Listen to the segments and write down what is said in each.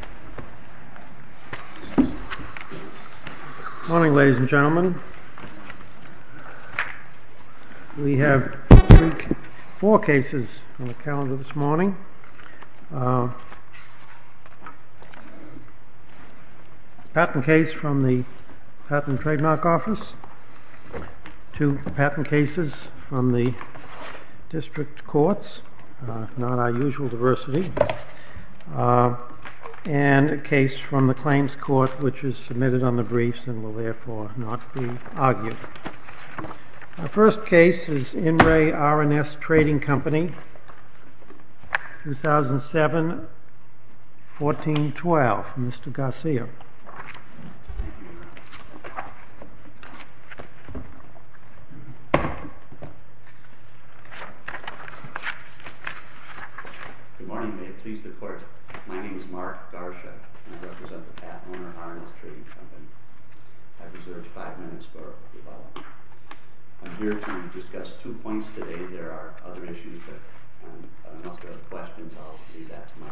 Good morning, ladies and gentlemen. We have four cases on the calendar this morning. A patent case from the Patent and Trademark Office, two patent cases from the District Courts, not our usual diversity, and a case from the Claims Court which is submitted on the briefs and will therefore not be argued. The first case is In Re R & S Trading Company, 2007-14-12. Mr. Garsha. Good morning, may it please the Court. My name is Mark Garsha, and I represent the Patent and Re R & S Trading Company. I have reserved five minutes for rebuttal. I'm here to discuss two points today. There are other issues, but unless there are questions, I'll leave that to my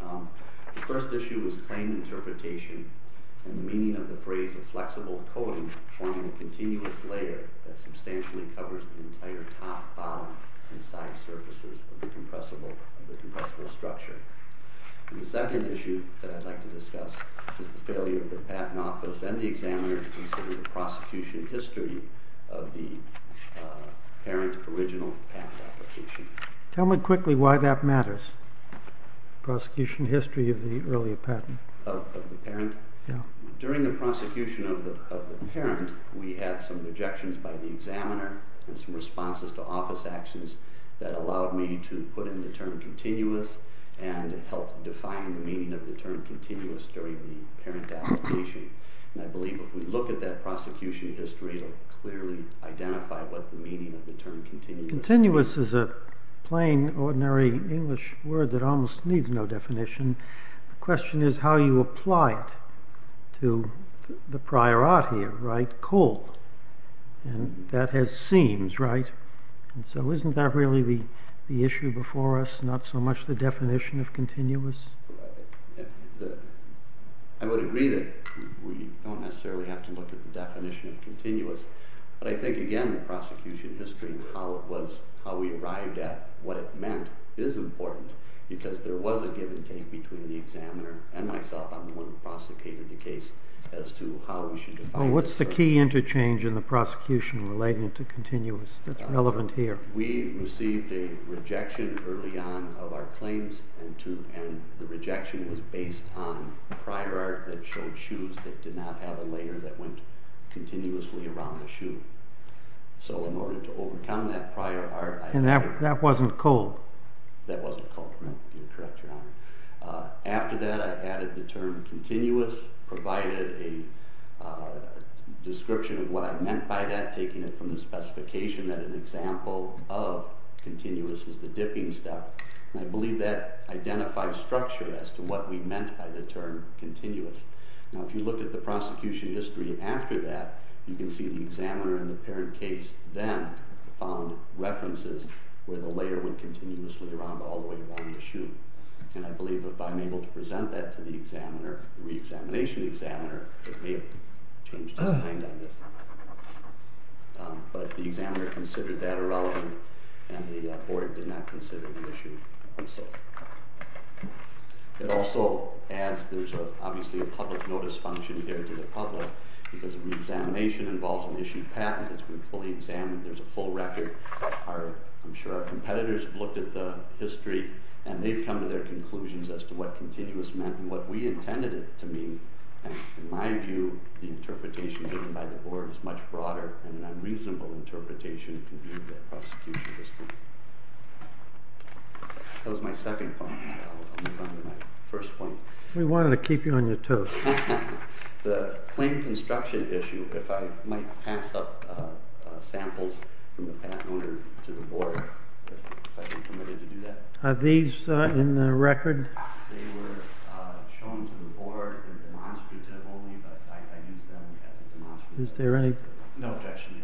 colleagues. The first issue was claim interpretation and the meaning of the phrase of flexible coding forming a continuous layer that substantially covers the entire top, bottom, and side surfaces of the compressible structure. The second issue that I'd like to discuss is the failure of the Patent Office and the examiner to consider the prosecution history of the parent original patent application. Tell me quickly why that matters, the prosecution history of the earlier patent. During the prosecution of the parent, we had some objections by the examiner and some responses to office actions that allowed me to put in the term continuous and help define the meaning of the term continuous during the parent application. I believe if we look at that prosecution history, we'll clearly identify what the meaning of the term continuous is. Continuous is a plain ordinary English word that almost needs no definition. The question is how you apply it to the prior art here, right? Cold. That has seams, right? So isn't that really the issue before us? Not so much the definition of continuous? I would agree that we don't necessarily have to look at the definition of continuous, but I think again the prosecution history and how we arrived at what it meant is important because there was a give and take between the examiner and myself. I'm the one who prosecuted the case as to how we should define it. What's the key interchange in the prosecution relating to continuous that's relevant here? We received a rejection early on of our claims and the rejection was based on prior art that showed a layer that went continuously around the shoe. So in order to overcome that prior art... And that wasn't cold? That wasn't cold, correct your honor. After that I added the term continuous, provided a description of what I meant by that, taking it from the specification that an example of continuous is the dipping step. I believe that in the prosecution history after that, you can see the examiner in the parent case then found references where the layer would continuously around all the way around the shoe. And I believe if I'm able to present that to the examiner, the re-examination examiner, it may have changed his mind on this. But the examiner considered that irrelevant and the board did not consider the issue. It also adds, there's obviously a public notice function here to the public because re-examination involves an issued patent, it's been fully examined, there's a full record. I'm sure our competitors have looked at the history and they've come to their conclusions as to what continuous meant and what we intended it to mean. In my view, the interpretation given by the board is much broader than an unreasonable interpretation in view of the prosecution history. That was my second point. I'll move on to my first point. We wanted to keep you on your toes. The claim construction issue, if I might pass up samples from the patent owner to the board, if I'm permitted to do that. Are these in the record? They were shown to the board as demonstrative only, but I used them as demonstrative. Is there any... No objection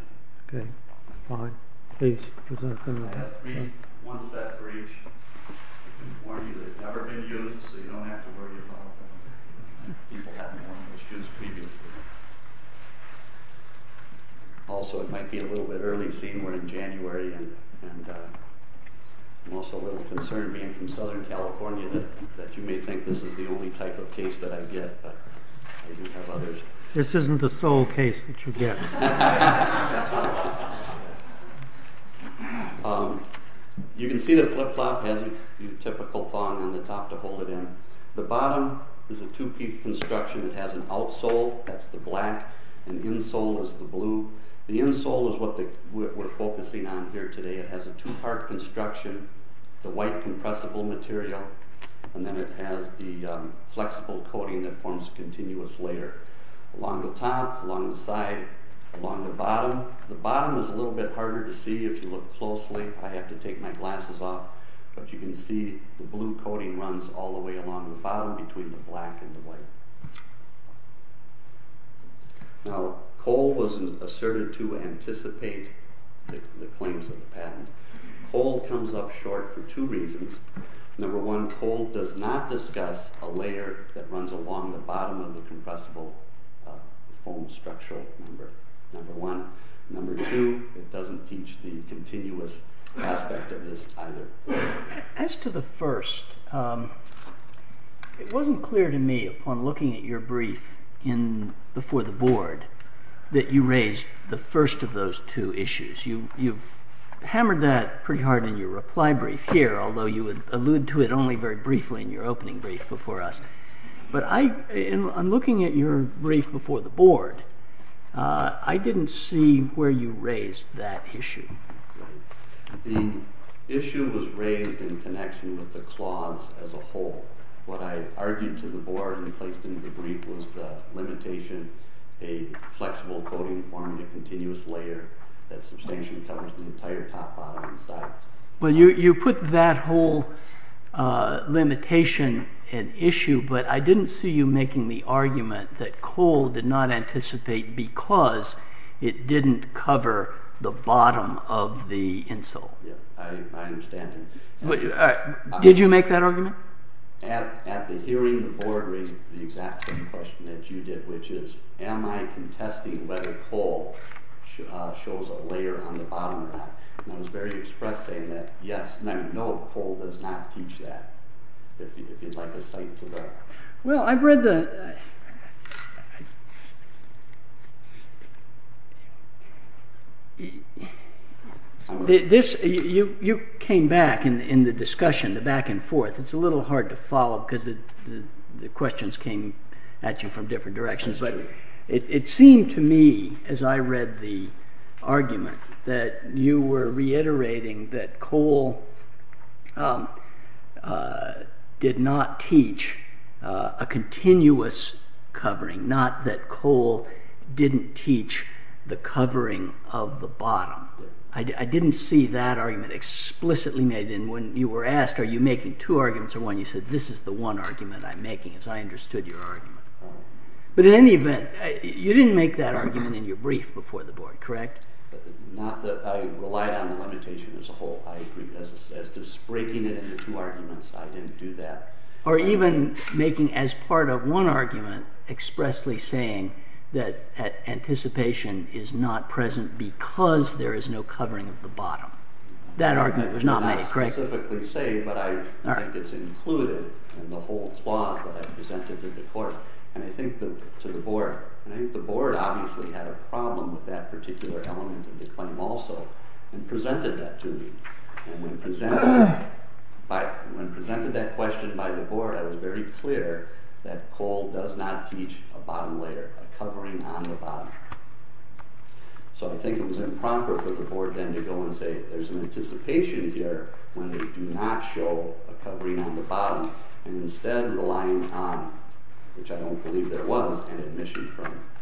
yet. Okay, fine. Please present them. I have one set for each. I can warn you they've never been used, so you don't have to worry about them. People haven't worn those shoes previously. Also, it might be a little bit early, seeing we're in January, and I'm also a little concerned, being from Southern California, that you may think this is the only type of case that I get, but I do have others. This isn't the sole case that you get. You can see the flip-flop has the typical thong on the top to hold it in. The bottom is a two-piece construction. It has an outsole, that's the black, and the insole is the blue. The insole is what we're focusing on here today. It has a two-part construction, the white compressible material, and then it has the flexible coating that forms a continuous layer along the top, along the side, along the bottom. The bottom is a little bit harder to see. If you look closely, I have to take my glasses off, but you can see the blue coating runs all the way along the bottom between the black and the white. Now, Cole was asserted to anticipate the claims of the patent. Cole comes up short for two reasons. Number one, Cole does not discuss a layer that runs along the bottom of the compressible foam structure, number one. Number two, it doesn't teach the continuous aspect of this either. As to the first, it wasn't clear to me upon looking at your brief before the board that you raised the first of those two issues. You hammered that pretty hard in your reply brief here, although you would allude to it only very briefly in your opening brief before us. But in looking at your brief before the board, I didn't see where you raised that issue. The issue was raised in connection with the cloths as a whole. What I argued to the board and placed in the brief was the limitation, a flexible coating forming a continuous layer that substantially covers the entire top, bottom, and side. Well, you put that whole limitation and issue, but I didn't see you making the argument that Cole did not anticipate because it didn't cover the bottom of the insole. Yeah, I understand. Did you make that argument? At the hearing, the board raised the exact same question that you did, which is, am I contesting whether Cole shows a layer on the bottom or not? And I was very expressed saying that, yes, no, Cole does not teach that. It's like a sight to the eye. Well, I've read the... You came back in the discussion, the back and forth. It's a little hard to follow because the questions came at you from different directions. It seemed to me as I read the argument that you were reiterating that Cole did not teach a continuous covering, not that Cole didn't teach the covering of the bottom. I didn't see that argument explicitly made. And when you were asked, are you making two arguments or one, you said, this is the one argument I'm making as I understood your argument. But in any event, you didn't make that argument in your brief before the board, correct? Not that I relied on the limitation as a whole. I agreed as to breaking it into two arguments, I didn't do that. Or even making as part of one argument expressly saying that anticipation is not present because there is no covering of the bottom. That argument was not made, correct? I can't specifically say, but I think it's included in the whole clause that I presented to the board. And I think the board obviously had a problem with that particular element of the claim also and presented that to me. And when presented that question by the board, I was very clear that Cole does not teach a bottom layer, a covering on the bottom. So I think it was improper for the board then to go and say, there's an anticipation here when they do not show a covering on the bottom and instead relying on, which I don't believe there was, an admission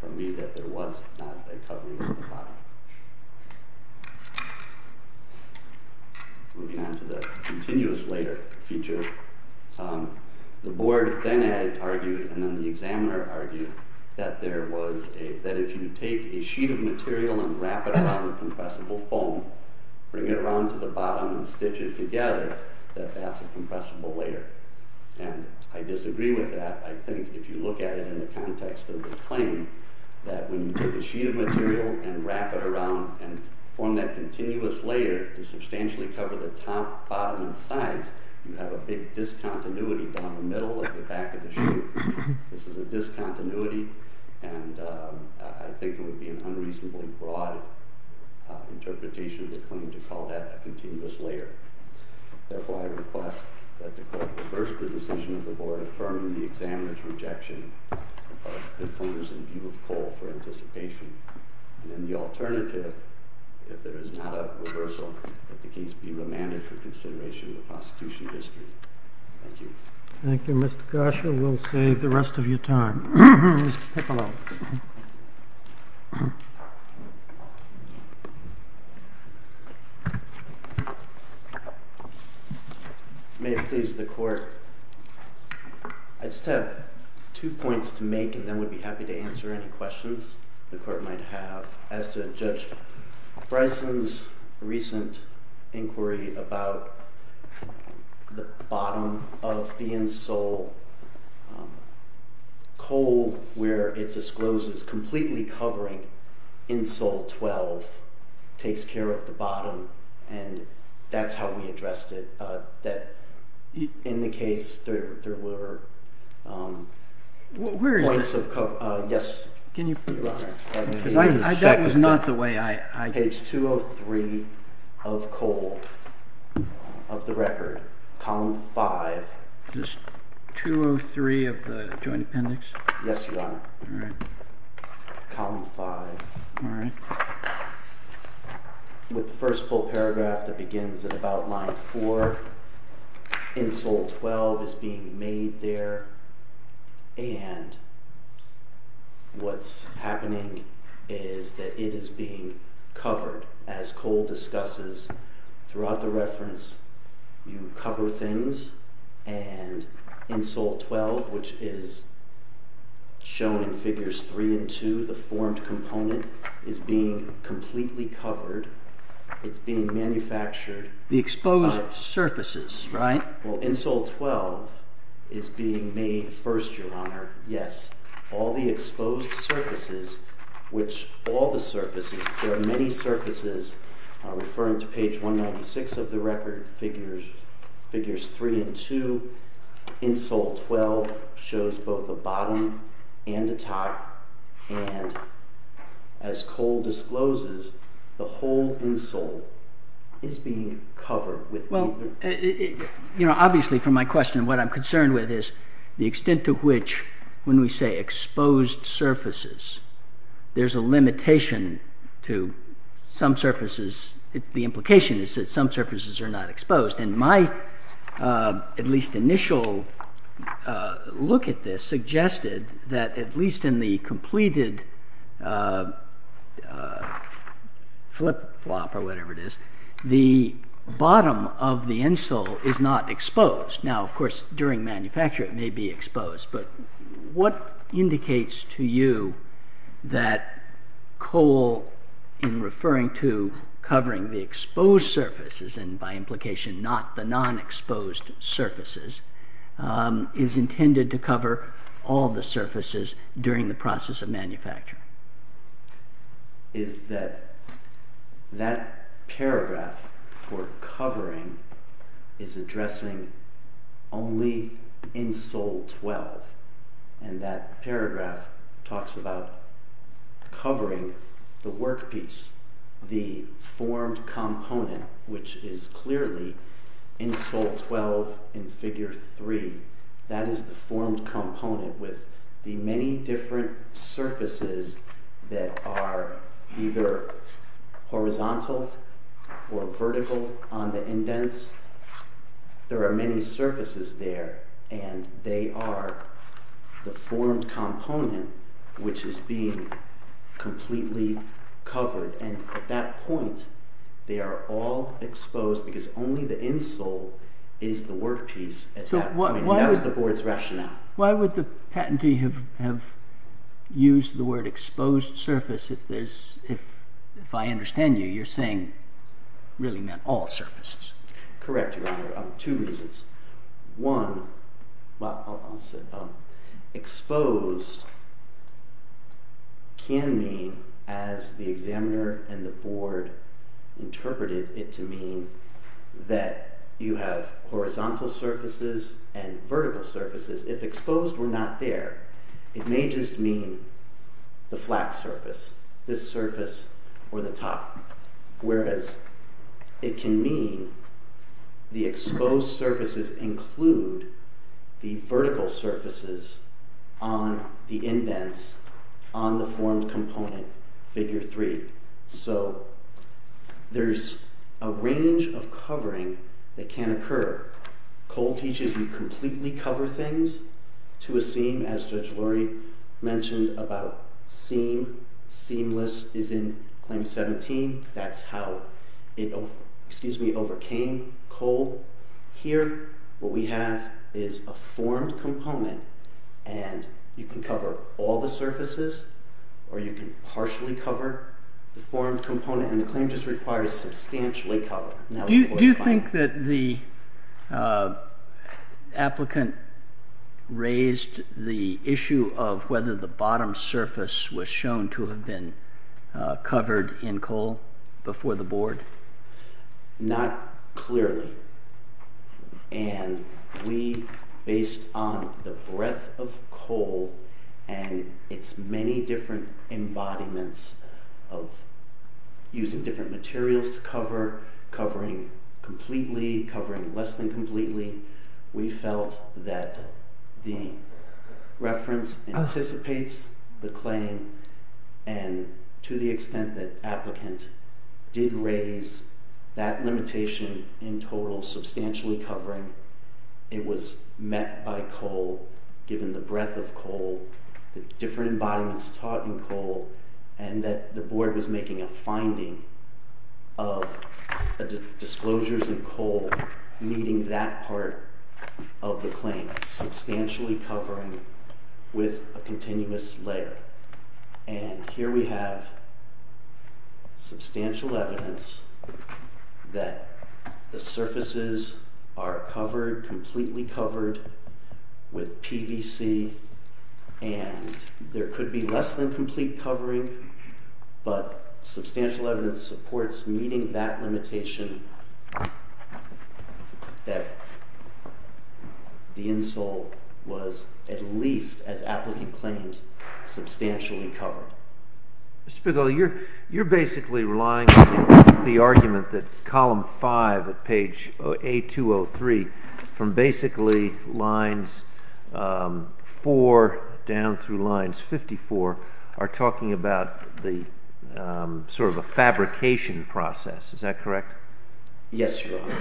from me that there was not a covering on the bottom. Moving on to the continuous layer feature, the board then argued, and then the examiner argued, that if you take a sheet of material and wrap it around the compressible foam, bring it around to the bottom and stitch it together, that that's a compressible layer. And I disagree with that. I think if you look at it in the context of the claim, that when you take a sheet of material and wrap it around and form that continuous layer to substantially cover the top, bottom, and sides, you have a big discontinuity down the middle at the back of the sheet. This is a discontinuity, and I think it would be an unreasonably broad interpretation of the claim to call that a continuous layer. Therefore, I request that the court reverse the decision of the board affirming the examiner's rejection of the claims in view of Cole for anticipation. I'll let the case be remanded for consideration in the prosecution district. Thank you. Thank you, Mr. Gosher. We'll save the rest of your time. Mr. Piccolo. May it please the court, I just have two points to make, and then would be happy to answer any questions the court might have. As to Judge Bryson's recent inquiry about the bottom of the insole, Cole, where it discloses completely covering insole 12, takes care of the bottom, and that's how we addressed it, that in the case there were points of cover. Yes, Your Honor. That was not the way I... Page 203 of Cole, of the record, column 5. 203 of the joint appendix? Yes, Your Honor. All right. Column 5. All right. With the first full paragraph that begins at about line 4, insole 12 is being made there, and what's happening is that it is being covered. As Cole discusses throughout the reference, you cover things, and insole 12, which is shown in figures 3 and 2, the formed component, is being completely covered. It's being manufactured. The exposed surfaces, right? Well, insole 12 is being made first, Your Honor. Yes. All the exposed surfaces, which all the surfaces, there are many surfaces referring to page 196 of the record, figures 3 and 2, insole 12 shows both the bottom and the top, and as Cole discloses, the whole insole is being covered. Well, you know, obviously from my question, what I'm concerned with is the extent to which, when we say exposed surfaces, there's a limitation to some surfaces. The implication is that some surfaces are not exposed, and my at least initial look at this suggested that at least in the completed flip-flop or whatever it is, the bottom of the insole is not exposed. Now, of course, during manufacture it may be exposed, but what indicates to you that Cole, in referring to covering the exposed surfaces, and by implication not the non-exposed surfaces, is intended to cover all the surfaces during the process of manufacture? Is that that paragraph for covering is addressing only insole 12, and that paragraph talks about covering the workpiece, the formed component, which is clearly insole 12 in figure 3. That is the formed component with the many different surfaces that are either horizontal or vertical on the indents. There are many surfaces there, and they are the formed component, which is being completely covered, and at that point they are all exposed because only the insole is the workpiece at that point. That was the board's rationale. Why would the patentee have used the word exposed surface if I understand you, you're saying really not all surfaces? Correct, Your Honor, two reasons. One, exposed can mean, as the examiner and the board interpreted it to mean, that you have horizontal surfaces and vertical surfaces. If exposed were not there, it may just mean the flat surface, this surface or the top, whereas it can mean the exposed surfaces include the vertical surfaces on the indents on the formed component, figure 3. So there's a range of covering that can occur. Cole teaches you completely cover things to a seam, as Judge Lurie mentioned about seam. Seamless is in Claim 17. That's how it overcame Cole here. What we have is a formed component, and you can cover all the surfaces or you can partially cover the formed component, and the claim just requires substantially cover. Do you think that the applicant raised the issue of whether the bottom surface was shown to have been covered in Cole before the board? Not clearly. And we, based on the breadth of Cole and its many different embodiments of using different materials to cover, covering completely, covering less than completely, we felt that the reference anticipates the claim and to the extent that applicant didn't raise that limitation in total, substantially covering, it was met by Cole, given the breadth of Cole, the different embodiments taught in Cole, and that the board was making a finding of disclosures in Cole meeting that part of the claim, substantially covering with a continuous layer. And here we have substantial evidence that the surfaces are covered, completely covered, with PVC, and there could be less than complete covering, but substantial evidence supports meeting that limitation that the insole was at least, as applicant claims, substantially covered. Mr. Fidele, you're basically relying on the argument that column five at page A203, from basically lines four down through lines 54, are talking about sort of a fabrication process. Is that correct? Yes, Your Honor.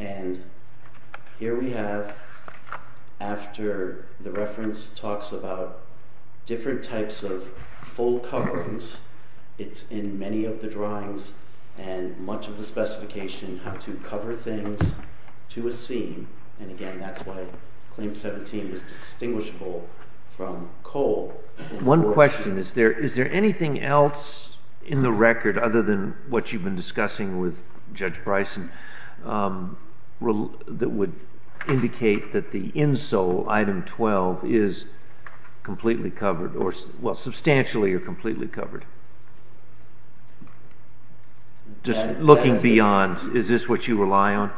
And here we have, after the reference talks about different types of full coverings, it's in many of the drawings, and much of the specification had to cover things to a scene, and again, that's why claim 17 is distinguishable from Cole. One question, is there anything else in the record, other than what you've been discussing with Judge Bryson, that would indicate that the insole, item 12, is completely covered, or substantially or completely covered? Just looking beyond, is this what you rely on?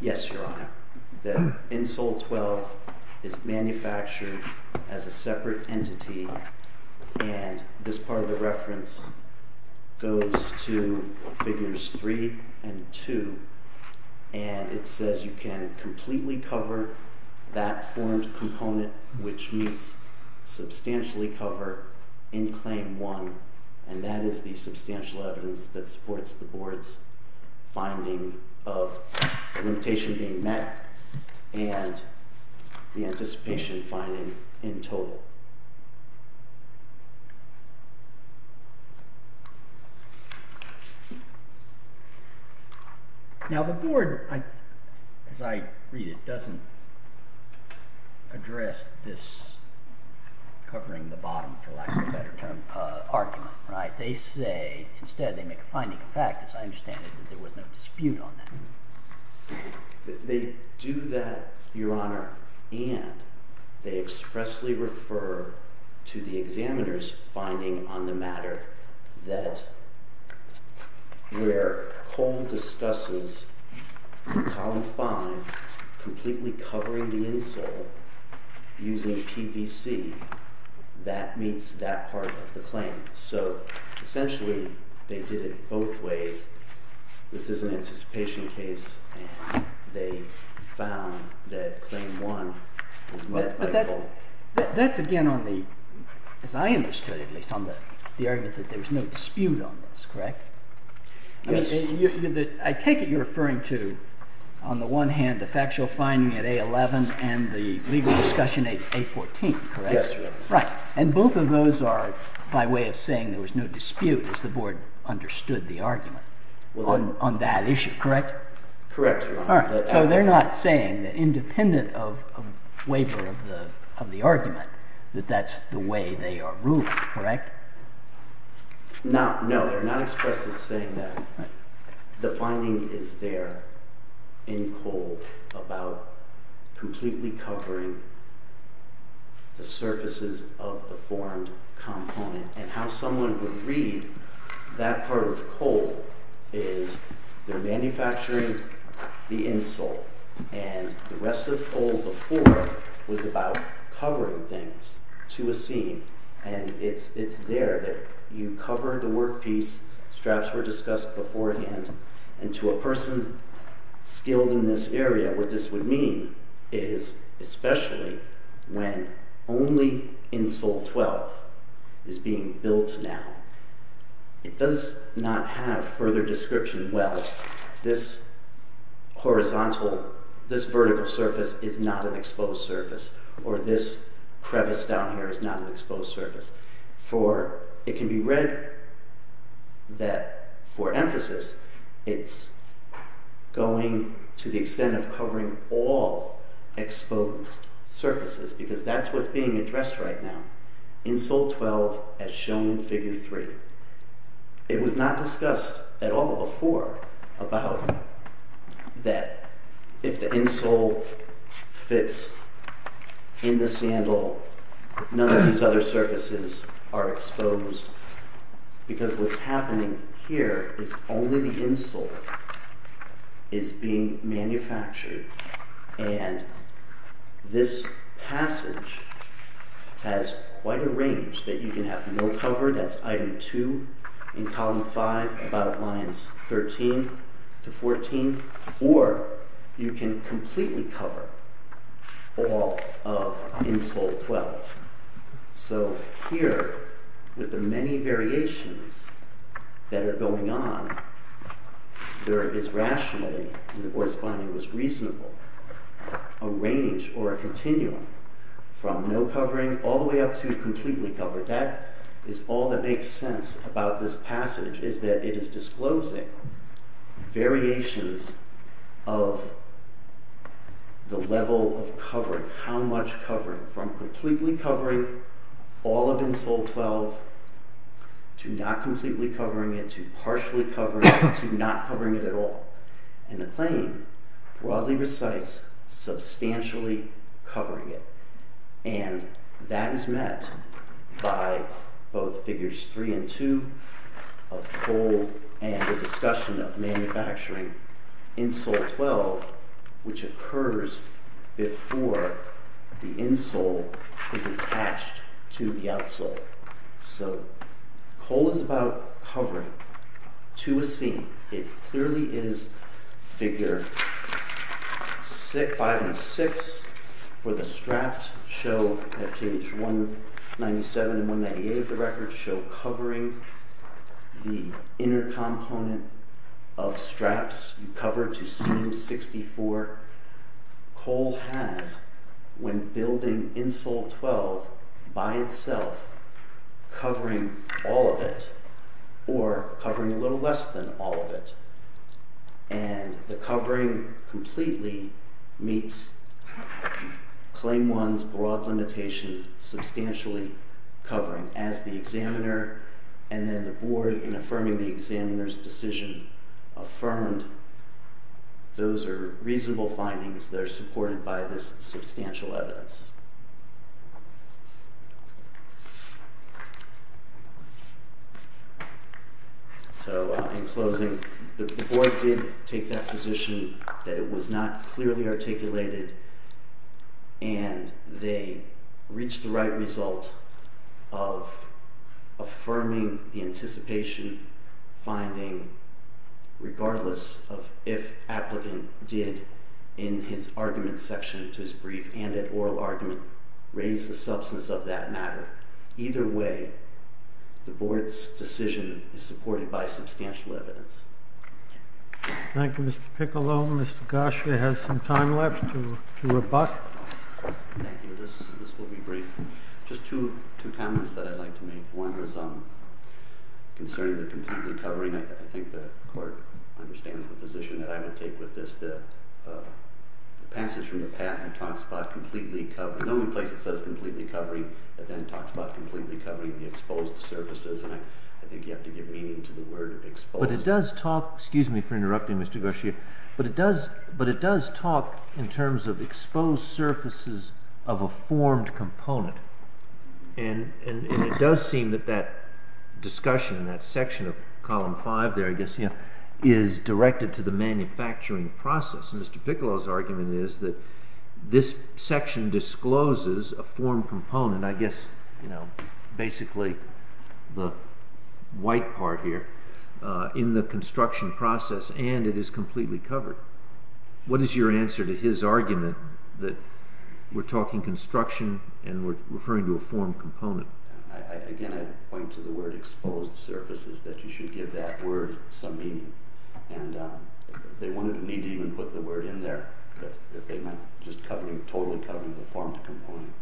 Yes, Your Honor. The insole 12 is manufactured as a separate entity, and this part of the reference goes to figures three and two, and it says you can completely cover that formed component, which means substantially cover in claim one, and that is the substantial evidence that supports the Board's finding of the limitation being met, and the anticipation finding in total. Now the Board, as I read it, doesn't address this covering the bottom, for lack of a better term, argument. They say, instead they make a finding of fact, as I understand it, that there was no dispute on that. They do that, Your Honor, and they expressly refer to the examiner's finding on the matter, that where Cole discusses in column five, completely covering the insole using PVC, that meets that part of the claim. So essentially, they did it both ways. This is an anticipation case, and they found that claim one was met by Cole. That's again on the, as I understood it at least, on the argument that there was no dispute on this, correct? Yes. I take it you're referring to, on the one hand, the factual finding at A11 and the legal discussion at A14, correct? Yes, Your Honor. Right. And both of those are by way of saying there was no dispute, as the board understood the argument, on that issue, correct? Correct, Your Honor. All right. So they're not saying, independent of a waiver of the argument, that that's the way they are ruling, correct? No, they're not expressly saying that. The finding is there in Cole about completely covering the surfaces of the formed component, and how someone would read that part of Cole is they're manufacturing the insole, and the rest of Cole before was about covering things to a seam, and it's there that you cover the workpiece. Straps were discussed beforehand, and to a person skilled in this area, what this would mean is, especially when only insole 12 is being built now, it does not have further description, well, this horizontal, this vertical surface is not an exposed surface, or this crevice down here is not an exposed surface, for it can be read that, for emphasis, it's going to the extent of covering all exposed surfaces, because that's what's being addressed right now, insole 12 as shown in figure 3. It was not discussed at all before about that if the insole fits in the sandal, none of these other surfaces are exposed, because what's happening here is only the insole is being manufactured, and this passage has quite a range, that you can have no cover, that's item 2 in column 5, about lines 13 to 14, or you can completely cover all of insole 12. So here, with the many variations that are going on, there is rationally, and the corresponding was reasonable, a range or a continuum, from no covering all the way up to completely covered, that is all that makes sense about this passage, is that it is disclosing variations of the level of covering, of how much covering, from completely covering all of insole 12, to not completely covering it, to partially covering it, to not covering it at all. And the claim broadly recites substantially covering it, and that is met by both figures 3 and 2, of cold and the discussion of manufacturing insole 12, which occurs before the insole is attached to the outsole. So, coal is about covering to a seam. It clearly is figure 5 and 6, where the straps show at page 197 and 198 of the record, show covering the inner component of straps, you cover to seam 64. Coal has, when building insole 12 by itself, covering all of it, or covering a little less than all of it. And the covering completely meets claim 1's broad limitation, substantially covering as the examiner, and then the board, in affirming the examiner's decision, he affirmed those are reasonable findings that are supported by this substantial evidence. So, in closing, the board did take that position that it was not clearly articulated, and they reached the right result of affirming the anticipation finding, regardless of if applicant did, in his argument section to his brief and at oral argument, raise the substance of that matter. Either way, the board's decision is supported by substantial evidence. Thank you, Mr. Piccolo. Mr. Gosher has some time left to rebut. Thank you. This will be brief. Just two comments that I'd like to make. One is concerning the completely covering. I think the court understands the position that I would take with this. The passage from the patent talks about completely covering. The only place it says completely covering, it then talks about completely covering the exposed surfaces. And I think you have to give meaning to the word exposed. But it does talk, excuse me for interrupting Mr. Gosher, but it does talk in terms of exposed surfaces of a formed component. And it does seem that that discussion, that section of column five there, I guess, is directed to the manufacturing process. And Mr. Piccolo's argument is that this section discloses a formed component, I guess basically the white part here, in the construction process, and it is completely covered. What is your answer to his argument that we're talking construction and we're referring to a formed component? Again, I'd point to the word exposed surfaces, that you should give that word some meaning. And they wanted me to even put the word in there that they meant just totally covering the formed component.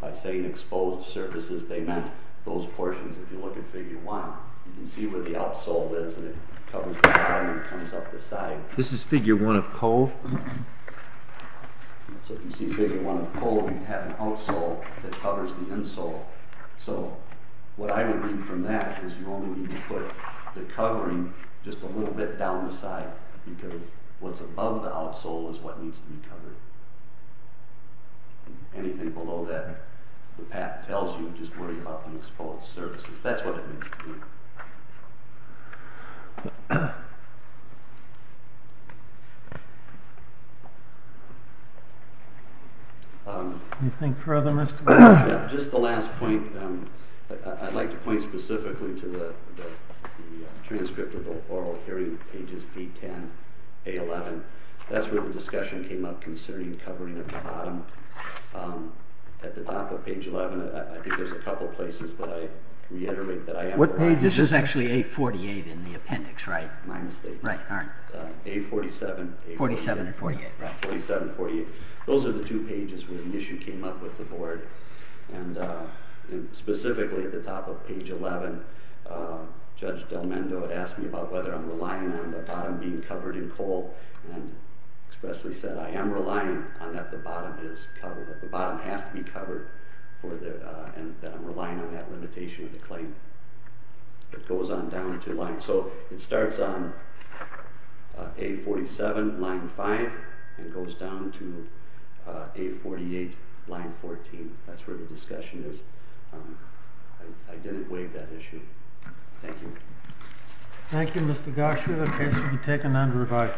By saying exposed surfaces, they meant those portions if you look at figure one. You can see where the outsole is and it covers the bottom and comes up the side. This is figure one of pole. So if you see figure one of pole, you have an outsole that covers the insole. So what I would read from that is you only need to put the covering just a little bit down the side because what's above the outsole is what needs to be covered. Anything below that, the patent tells you, just worry about the exposed surfaces. That's what it means to me. Anything further? Just the last point. I'd like to point specifically to the transcript of the oral hearing pages D10, A11. That's where the discussion came up concerning covering at the bottom. At the top of page 11, I think there's a couple places that I reiterate. This is actually A48 in the appendix, right? My mistake. Right. A47. 47 and 48. Right, 47 and 48. Those are the two pages where the issue came up with the board. And specifically at the top of page 11, Judge Del Mendo had asked me about whether I'm relying on the bottom being covered in coal and expressly said I am relying on that the bottom is covered, and that I'm relying on that limitation of the claim. It goes on down to line... So it starts on A47, line 5, and goes down to A48, line 14. That's where the discussion is. I didn't waive that issue. Thank you. Thank you, Mr. Gosher. The case will be taken under revisal.